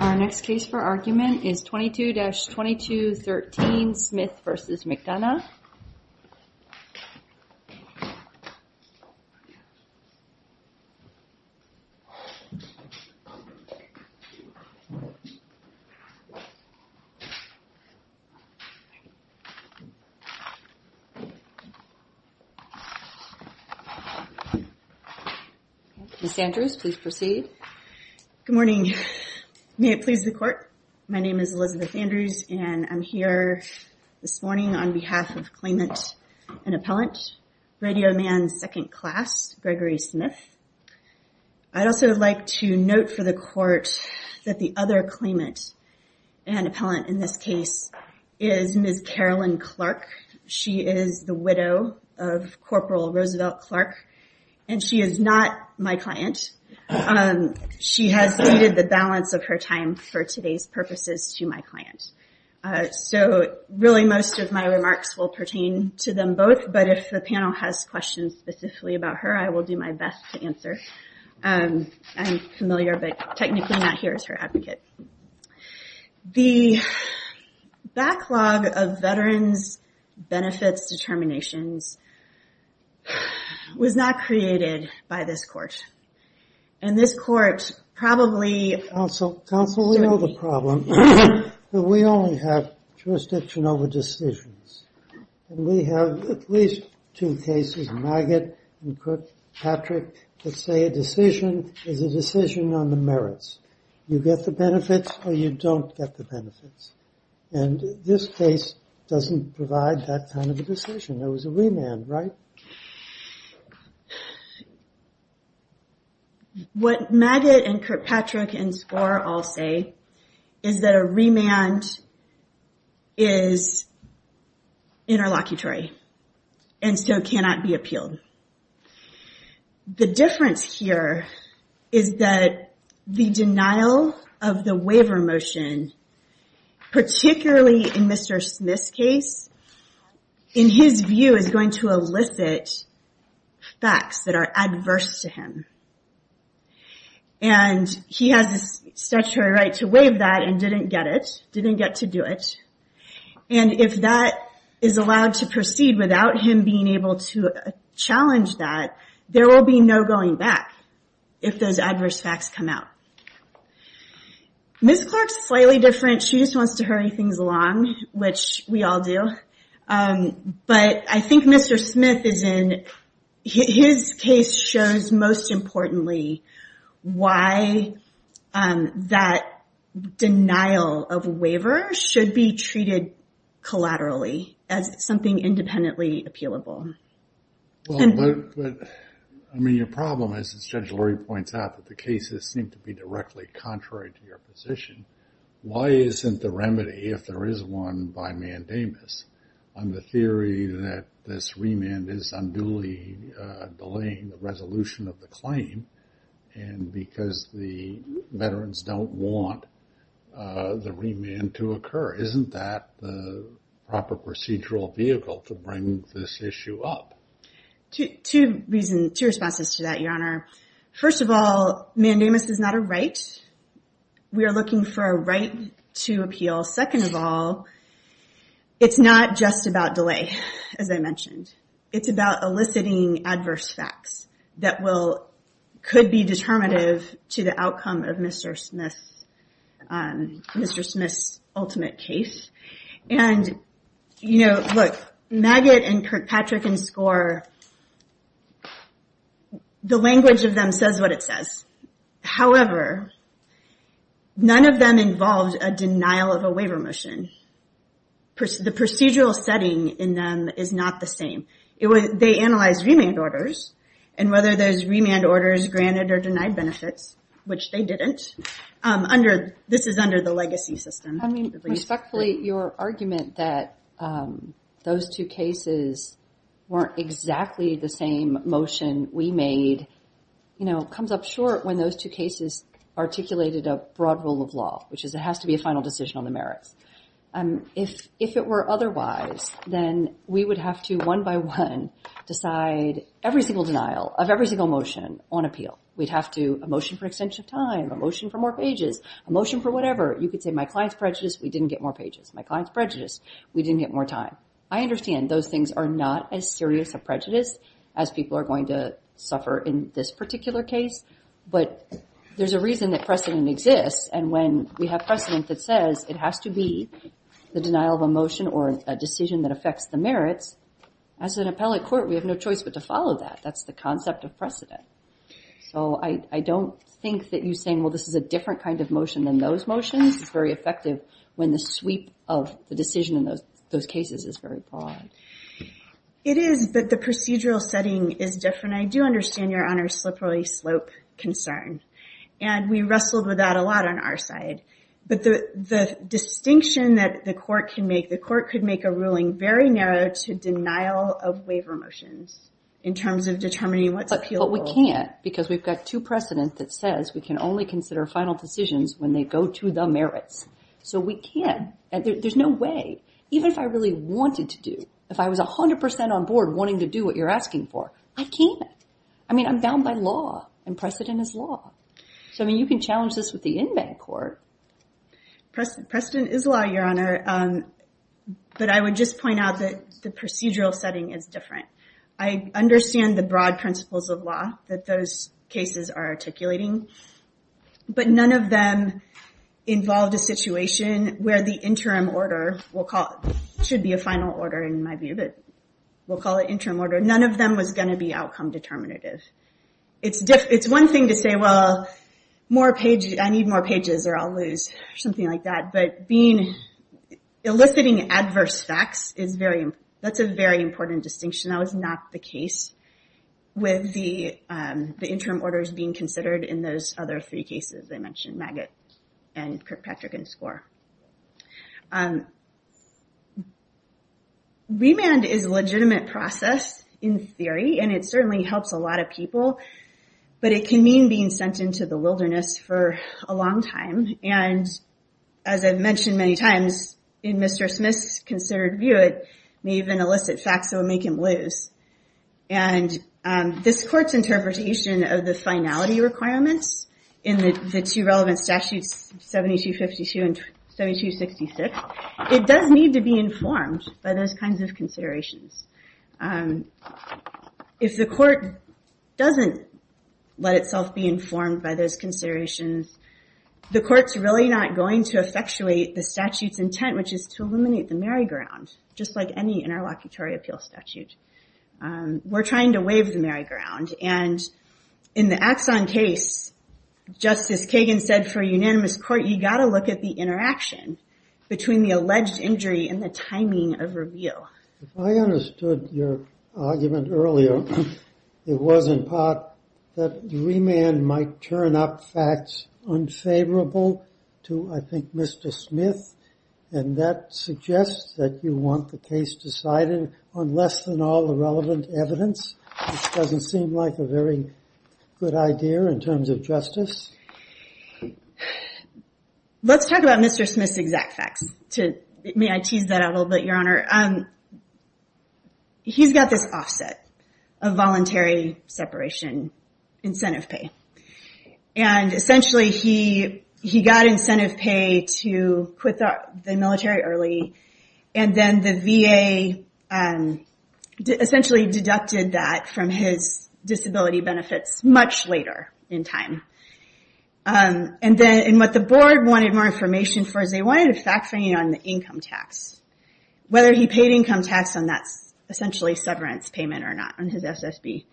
Our next case for argument is 22-2213 Smith v. McDonough. Ms. Andrews, please proceed. Ms. Andrews Good morning. May it please the court, my name is Elizabeth Andrews and I'm here this morning on behalf of claimant and appellant, Radio Man second class Gregory Smith. I'd also like to note for the court that the other claimant and appellant in this case is Ms. Carolyn Clark. She is the widow of Corporal Roosevelt Clark and she is not my client. She has needed the balance of her time for today's purposes to my client. So really most of my remarks will pertain to them both but if the panel has questions specifically about her I will do my best to answer. I'm familiar but technically not here as her advocate. The backlog of veterans benefits determinations was not created by this court. And this court probably... Counsel, we know the problem. We only have jurisdiction over decisions. We have at least two cases, Maggott and Patrick, that say a decision is a decision on the merits. You get the benefits or you don't get the benefits. And this case doesn't provide that kind of a decision. It was a remand, right? What Maggott and Kirkpatrick and Skor all say is that a remand is interlocutory and so cannot be appealed. The difference here is that the denial of the waiver motion, particularly in Mr. Smith's case, in his view is going to elicit facts that are adverse to him. And he has a statutory right to waive that and didn't get it, didn't get to do it. And if that is allowed to proceed without him being able to challenge that, there will be no going back if those adverse facts come out. Ms. Clark's slightly different. She just wants to hurry things along, which we all do. But I think Mr. Smith is in, his case shows most importantly why that denial of a waiver should be treated collaterally as something independently appealable. I mean, your problem is, as Judge Lurie points out, that the cases seem to be directly contrary to your position. Why isn't the remedy if there is one by mandamus? On the theory that this remand is unduly delaying the resolution of the claim and because the veterans don't want the remand to occur. Isn't that the proper procedural vehicle to bring this issue up? Two reasons, two responses to that, Your Honor. First of all, mandamus is not a right. We are looking for a right to appeal. Second of all, it's not just about delay, as I mentioned. It's about eliciting adverse facts that could be determinative to the outcome of Mr. Smith's ultimate case. And look, Maggott and Kirkpatrick and Skor, the language of them says what it says. However, none of them involved a denial of a waiver motion. The procedural setting in them is not the same. They analyzed remand orders and whether those remand orders granted or denied benefits, which they didn't, this is under the legacy system. I mean, respectfully, your argument that those two cases weren't exactly the same motion we made comes up short when those two cases articulated a broad rule of law, which is it has to be a final decision on the merits. If it were otherwise, then we would have to one by one decide every single denial of every single motion on appeal. We'd have to, a motion for extension of time, a motion for more pages, a motion for whatever. You could say my client's prejudice, we didn't get more pages. My client's prejudice, we didn't get more time. I understand those things are not as serious a prejudice as people are going to suffer in this particular case. But there's a reason that precedent exists. And when we have precedent that says it has to be the denial of a motion or a decision that affects the merits, as an appellate court, we have no choice but to follow that. That's the concept of precedent. So I don't think that you're saying, well, this is a different kind of motion than those motions. It's very effective when the sweep of the decision in those cases is very broad. It is, but the procedural setting is different. I do understand Your Honor's slippery slope concern, and we wrestled with that a lot on our side. But the distinction that the court can make, the court could make a ruling very narrow to denial of waiver motions in terms of determining what's appealable. But we can't because we've got two precedent that says we can only consider final decisions when they go to the merits. So we can't. There's no way. Even if I really wanted to do, if I was 100% on board wanting to do what you're asking for, I can't. I mean, I'm bound by law, and precedent is law. So, I mean, you can challenge this with the inmate court. Precedent is law, Your Honor. But I would just point out that the procedural setting is different. I understand the broad principles of law that those cases are articulating. But none of them involved a situation where the interim order should be a final order in my view, but we'll call it interim order. None of them was going to be outcome determinative. It's one thing to say, well, I need more pages, or I'll lose, or something like that. But eliciting adverse facts, that's a very important distinction. That was not the case with the interim orders being considered in those other three cases. I mentioned Maggott and Kirkpatrick and Skor. Remand is a legitimate process in theory, and it certainly helps a lot of people, but it can mean being sent into the wilderness for a long time. And as I've mentioned many times, in Mr. Smith's considered view, it may even elicit facts that will make him lose. And this court's interpretation of the finality requirements in the two relevant statutes, 7252 and 7266, it does need to be informed by those kinds of considerations. If the court doesn't let itself be informed by those considerations, the court's really not going to effectuate the statute's intent, which is to eliminate the merry-go-round, just like any interlocutory appeal statute. We're trying to waive the merry-go-round. And in the Axon case, Justice Kagan said for a unanimous court, you've got to look at the interaction between the alleged injury and the timing of reveal. If I understood your argument earlier, it was in part that remand might turn up facts unfavorable to, I think, Mr. Smith, and that suggests that you want the case decided on less than all the relevant evidence, which doesn't seem like a very good idea in terms of justice. Let's talk about Mr. Smith's exact facts. May I tease that out a little bit, Your Honor? He's got this offset of voluntary separation incentive pay. And essentially, he got incentive pay to quit the military early, and then the VA essentially deducted that from his disability benefits much later in time. And what the board wanted more information for is they wanted a fact-finding on the income tax, whether he paid income tax on that essentially severance payment or not on his SSB.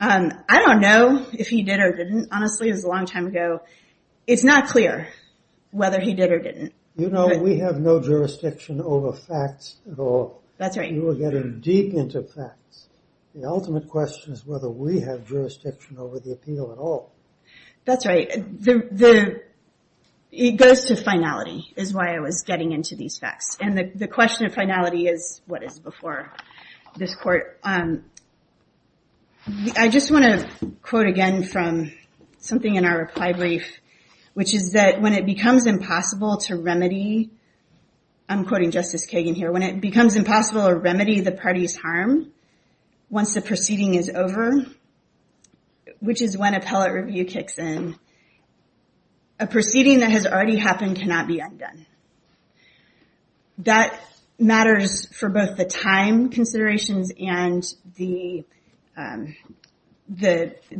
I don't know if he did or didn't. Honestly, it was a long time ago. It's not clear whether he did or didn't. You know, we have no jurisdiction over facts at all. That's right. You are getting deep into facts. The ultimate question is whether we have jurisdiction over the appeal at all. That's right. It goes to finality is why I was getting into these facts. And the question of finality is what is before this court. I just want to quote again from something in our reply brief, which is that when it becomes impossible to remedy, I'm quoting Justice Kagan here, when it becomes impossible to remedy the party's harm once the proceeding is over, which is when appellate review kicks in, a proceeding that has already happened cannot be undone. That matters for both the time considerations and the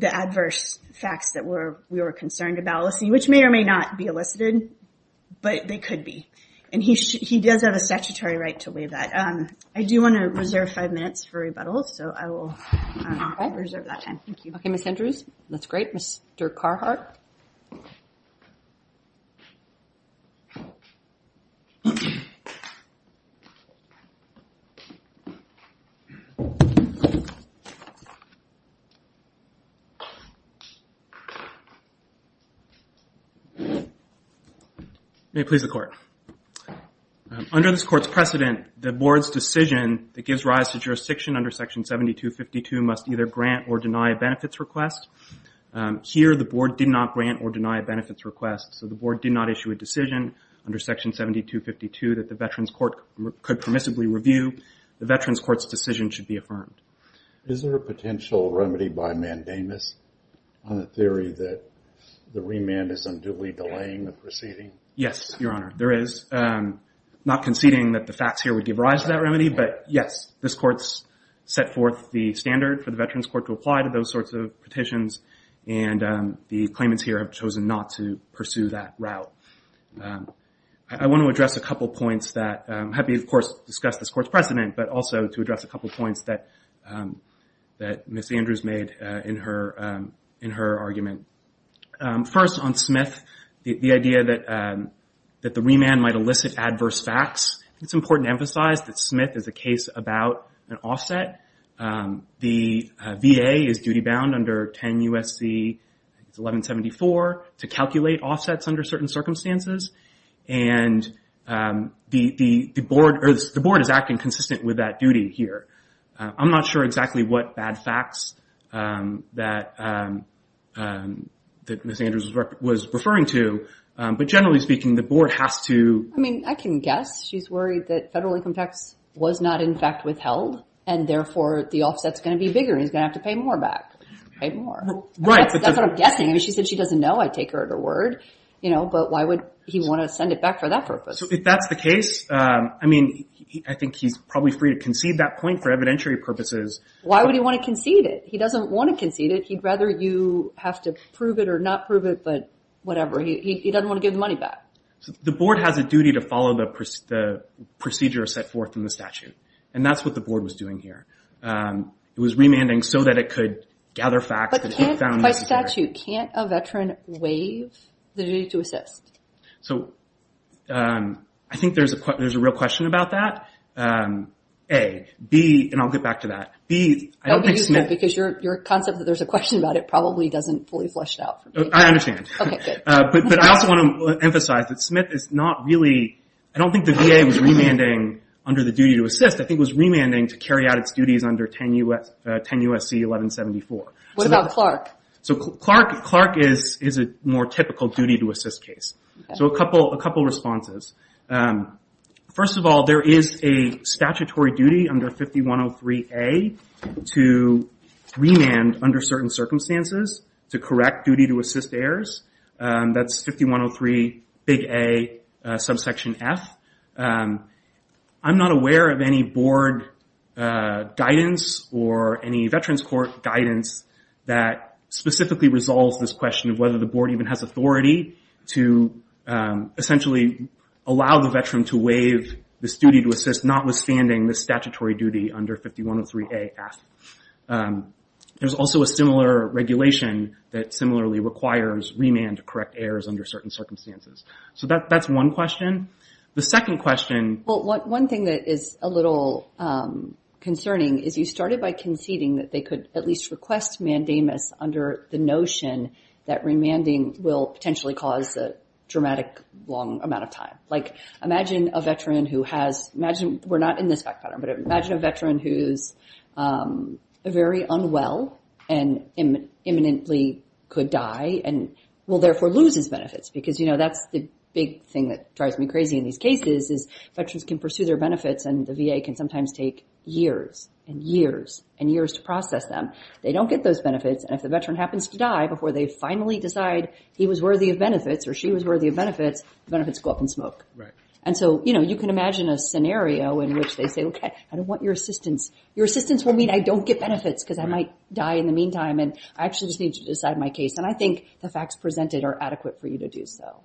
adverse facts that we were concerned about, which may or may not be elicited, but they could be. And he does have a statutory right to waive that. I do want to reserve five minutes for rebuttals, so I will reserve that time. Okay, Ms. Andrews. That's great. Mr. Carhart. Mr. Carhart. May it please the Court. Under this Court's precedent, the Board's decision that gives rise to jurisdiction under Section 7252 must either grant or deny a benefits request. Here, the Board did not grant or deny a benefits request, so the Board did not issue a decision under Section 7252 that the Veterans Court could permissibly review. The Veterans Court's decision should be affirmed. Is there a potential remedy by mandamus on the theory that the remand is unduly delaying the proceeding? Yes, Your Honor, there is. Not conceding that the facts here would give rise to that remedy, but yes, this Court's set forth the standard for the Veterans Court to apply to those sorts of petitions, and the claimants here have chosen not to pursue that route. I want to address a couple points that have been, of course, discussed in this Court's precedent, but also to address a couple points that Ms. Andrews made in her argument. First, on Smith, the idea that the remand might elicit adverse facts. It's important to emphasize that Smith is a case about an offset. The VA is duty-bound under 10 U.S.C. 1174 to calculate offsets under certain circumstances, and the Board is acting consistent with that duty here. I'm not sure exactly what bad facts that Ms. Andrews was referring to, but generally speaking, the Board has to— I mean, I can guess. She's worried that federal income tax was not, in fact, withheld, and therefore the offset's going to be bigger, and he's going to have to pay more back. Pay more. Right. That's what I'm guessing. I mean, she said she doesn't know. I take her at her word. But why would he want to send it back for that purpose? So if that's the case, I mean, I think he's probably free to concede that point for evidentiary purposes. Why would he want to concede it? He doesn't want to concede it. He'd rather you have to prove it or not prove it, but whatever. He doesn't want to give the money back. The Board has a duty to follow the procedure set forth in the statute, and that's what the Board was doing here. It was remanding so that it could gather facts that it found necessary. But can't—by statute, can't a veteran waive the duty to assist? So I think there's a real question about that, A. B—and I'll get back to that. B, I don't think— Don't be too quick because your concept that there's a question about it probably doesn't fully flesh it out for me. I understand. Okay, good. But I also want to emphasize that Smith is not really—I don't think the VA was remanding under the duty to assist. I think it was remanding to carry out its duties under 10 U.S.C. 1174. What about Clark? So Clark is a more typical duty to assist case. So a couple responses. First of all, there is a statutory duty under 5103A to remand under certain circumstances to correct duty to assist errors. That's 5103 big A subsection F. I'm not aware of any Board guidance or any Veterans Court guidance that specifically resolves this question of whether the Board even has authority to essentially allow the veteran to waive this duty to assist, notwithstanding the statutory duty under 5103A F. There's also a similar regulation that similarly requires remand to correct errors under certain circumstances. So that's one question. The second question— Well, one thing that is a little concerning is you started by conceding that they could at least request mandamus under the notion that remanding will potentially cause a dramatic long amount of time. Like imagine a veteran who has—we're not in this fact pattern, but imagine a veteran who is very unwell and imminently could die and will therefore lose his benefits because, you know, that's the big thing that drives me crazy in these cases is Veterans can pursue their benefits and the VA can sometimes take years and years and years to process them. They don't get those benefits. And if the veteran happens to die before they finally decide he was worthy of benefits or she was worthy of benefits, benefits go up in smoke. And so, you know, you can imagine a scenario in which they say, okay, I don't want your assistance. Your assistance will mean I don't get benefits because I might die in the meantime and I actually just need to decide my case. And I think the facts presented are adequate for you to do so.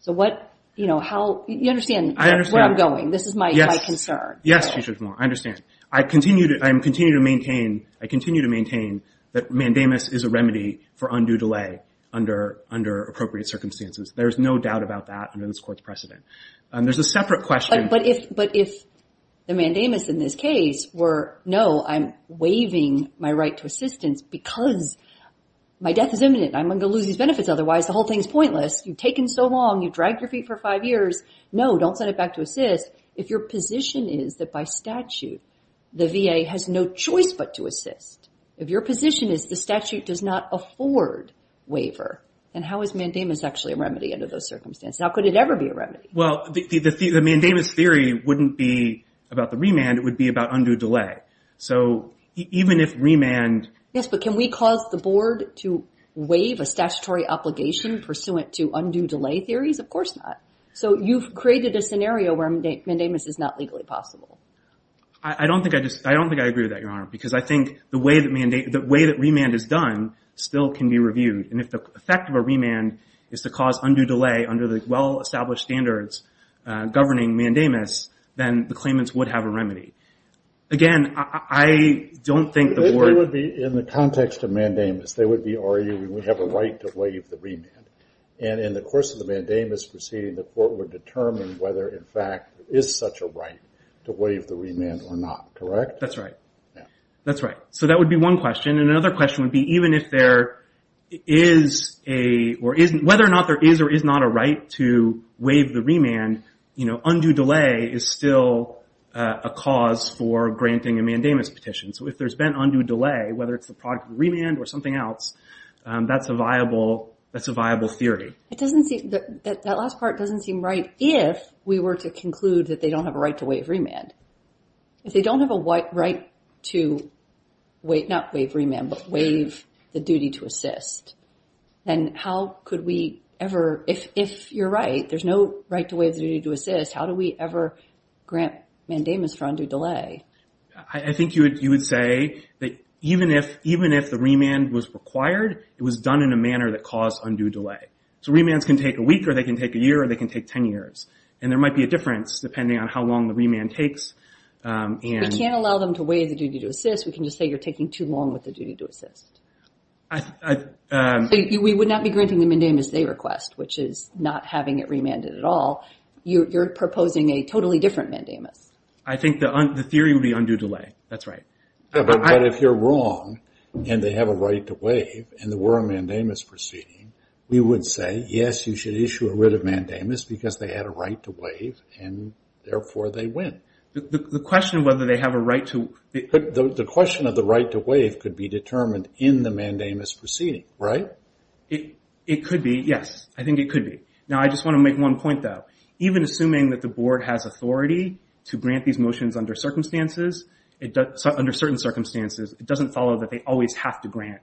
So what—you know, how—you understand where I'm going. This is my concern. Yes, I understand. I continue to maintain that mandamus is a remedy for undue delay under appropriate circumstances. There is no doubt about that under this Court's precedent. There's a separate question. But if the mandamus in this case were, no, I'm waiving my right to assistance because my death is imminent and I'm going to lose these benefits, otherwise the whole thing is pointless. You've taken so long. You've dragged your feet for five years. No, don't send it back to assist. If your position is that by statute the VA has no choice but to assist, if your position is the statute does not afford waiver, then how is mandamus actually a remedy under those circumstances? How could it ever be a remedy? Well, the mandamus theory wouldn't be about the remand. It would be about undue delay. So even if remand— Yes, but can we cause the Board to waive a statutory obligation pursuant to undue delay theories? Of course not. So you've created a scenario where mandamus is not legally possible. I don't think I agree with that, Your Honor, because I think the way that remand is done still can be reviewed. And if the effect of a remand is to cause undue delay under the well-established standards governing mandamus, then the claimants would have a remedy. Again, I don't think the Board— If they would be in the context of mandamus, they would be arguing we have a right to waive the remand. And in the course of the mandamus proceeding, the Court would determine whether, in fact, there is such a right to waive the remand or not, correct? That's right. That's right. So that would be one question. And another question would be even if there is a— whether or not there is or is not a right to waive the remand, undue delay is still a cause for granting a mandamus petition. So if there's been undue delay, whether it's the product of remand or something else, that's a viable theory. It doesn't seem— That last part doesn't seem right if we were to conclude that they don't have a right to waive remand. If they don't have a right to waive— not waive remand, but waive the duty to assist, then how could we ever— If you're right, there's no right to waive the duty to assist, how do we ever grant mandamus for undue delay? I think you would say that even if the remand was required, it was done in a manner that caused undue delay. So remands can take a week or they can take a year or they can take 10 years. And there might be a difference depending on how long the remand takes. If we can't allow them to waive the duty to assist, we can just say you're taking too long with the duty to assist. We would not be granting the mandamus they request, which is not having it remanded at all. You're proposing a totally different mandamus. I think the theory would be undue delay. That's right. But if you're wrong and they have a right to waive and there were a mandamus proceeding, we would say, yes, you should issue a writ of mandamus because they had a right to waive and, therefore, they win. The question of whether they have a right to— The question of the right to waive could be determined in the mandamus proceeding, right? It could be, yes. I think it could be. Now, I just want to make one point, though. Even assuming that the board has authority to grant these motions under certain circumstances, it doesn't follow that they always have to grant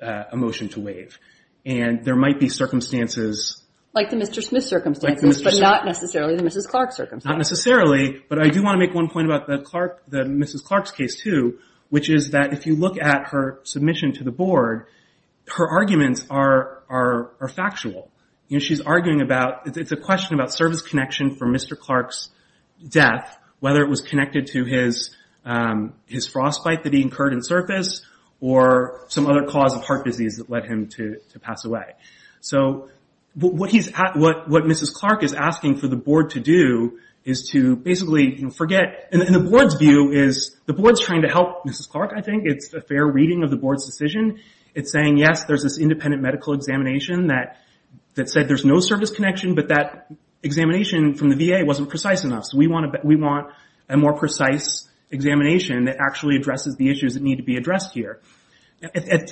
a motion to waive. There might be circumstances— Like the Mr. Smith circumstances, but not necessarily the Mrs. Clark circumstances. Not necessarily, but I do want to make one point about the Mrs. Clark's case, too, which is that if you look at her submission to the board, her arguments are factual. She's arguing about—it's a question about service connection for Mr. Clark's death, whether it was connected to his frostbite that he incurred in service or some other cause of heart disease that led him to pass away. What Mrs. Clark is asking for the board to do is to basically forget— The board's view is— The board's trying to help Mrs. Clark, I think. It's a fair reading of the board's decision. It's saying, yes, there's this independent medical examination that said there's no service connection, but that examination from the VA wasn't precise enough. We want a more precise examination that actually addresses the issues that need to be addressed here.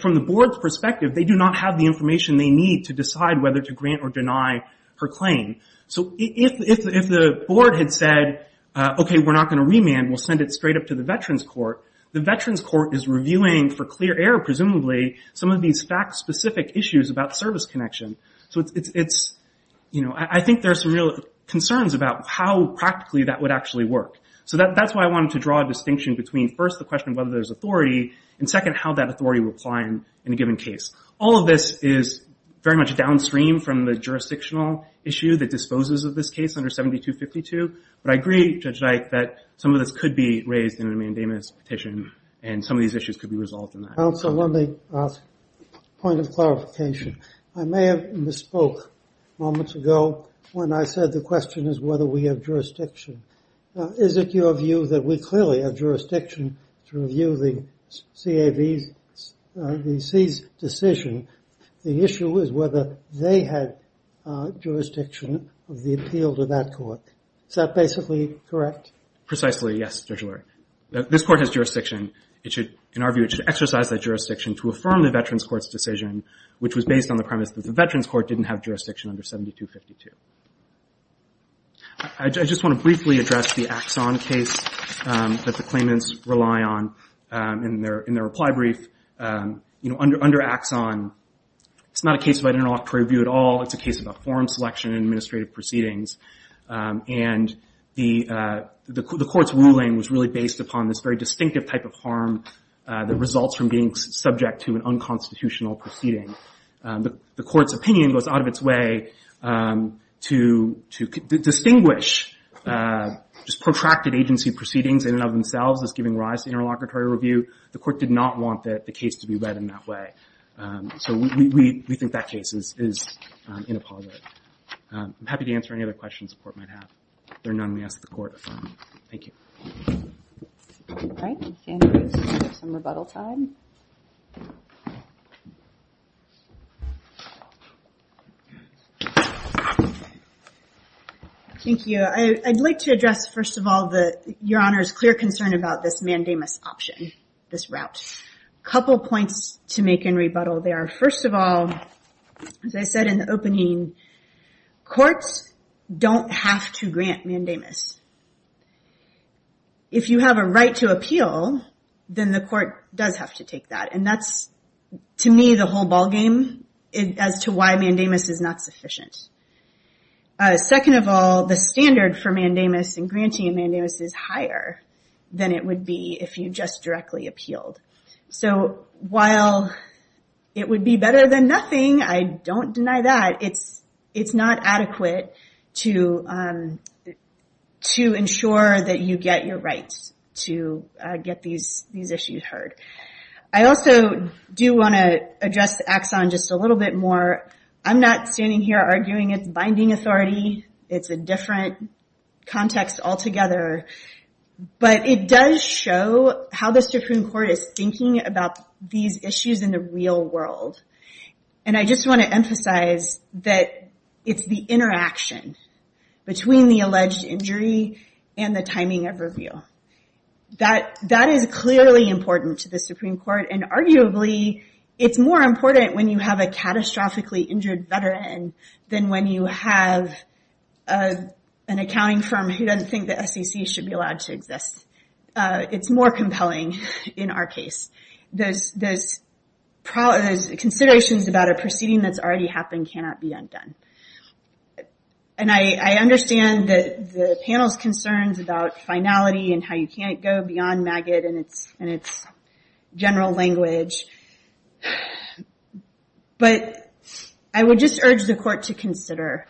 From the board's perspective, they do not have the information they need to decide whether to grant or deny her claim. If the board had said, okay, we're not going to remand. We'll send it straight up to the veterans court. The veterans court is reviewing for clear air, presumably, some of these fact-specific issues about service connection. I think there are some real concerns about how practically that would actually work. That's why I wanted to draw a distinction between, first, the question of whether there's authority, and, second, how that authority would apply in a given case. All of this is very much downstream from the jurisdictional issue that disposes of this case under 7252, but I agree, Judge Dyke, that some of this could be raised in a mandamus petition, and some of these issues could be resolved in that. Counsel, let me ask a point of clarification. I may have misspoke moments ago when I said the question is whether we have jurisdiction. Is it your view that we clearly have jurisdiction to review the CAV's... the C's decision? The issue is whether they had jurisdiction of the appeal to that court. Is that basically correct? Precisely, yes, Judge Lurie. This court has jurisdiction. In our view, it should exercise that jurisdiction to affirm the Veterans Court's decision, which was based on the premise that the Veterans Court didn't have jurisdiction under 7252. I just want to briefly address the Axon case that the claimants rely on in their reply brief. You know, under Axon, it's not a case about interlocutory review at all. It's a case about forum selection and administrative proceedings, and the court's ruling was really based upon this very distinctive type of harm that results from being subject to an unconstitutional proceeding. The court's opinion goes out of its way to distinguish just protracted agency proceedings in and of themselves as giving rise to interlocutory review. The court did not want the case to be read in that way. So we think that case is in a positive. I'm happy to answer any other questions the court might have. If there are none, we ask the court to affirm. Thank you. All right, we have some rebuttal time. Thank you. I'd like to address, first of all, Your Honor's clear concern about this mandamus option, this route. A couple points to make in rebuttal there. First of all, as I said in the opening, courts don't have to grant mandamus. If you have a right to appeal, then the court does have to take that. And that's, to me, the whole ballgame as to why mandamus is not sufficient. Second of all, the standard for mandamus and granting a mandamus is higher than it would be if you just directly appealed. So while it would be better than nothing, I don't deny that, it's not adequate to ensure that you get your rights to get these issues heard. I also do want to address Axon just a little bit more. I'm not standing here arguing it's binding authority. It's a different context altogether. But it does show how the Supreme Court is thinking about these issues in the real world. And I just want to emphasize that it's the interaction between the alleged injury and the timing of review. That is clearly important to the Supreme Court. And arguably, it's more important when you have a catastrophically injured veteran than when you have an accounting firm who doesn't think the SEC should be allowed to exist. It's more compelling in our case. Considerations about a proceeding that's already happened cannot be undone. And I understand the panel's concerns about finality and how you can't go beyond MAG-IT and its general language. But I would just urge the Court to consider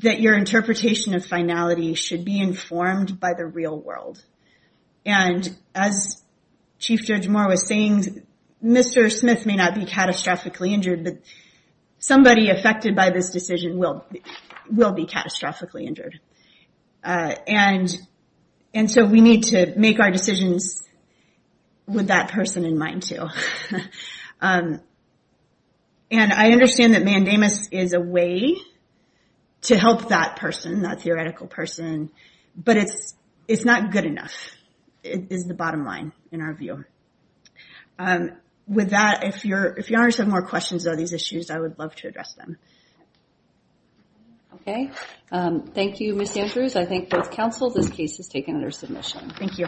that your interpretation of finality should be informed by the real world. And as Chief Judge Moore was saying, Mr. Smith may not be catastrophically injured, but somebody affected by this decision will be catastrophically injured. And so we need to make our decisions with that person in mind, too. And I understand that mandamus is a way to help that person, that theoretical person, but it's not good enough, is the bottom line in our view. With that, if your Honor has some more questions about these issues, I would love to address them. Okay. Thank you, Ms. Andrews. I thank both counsel. This case is taken under submission. Thank you.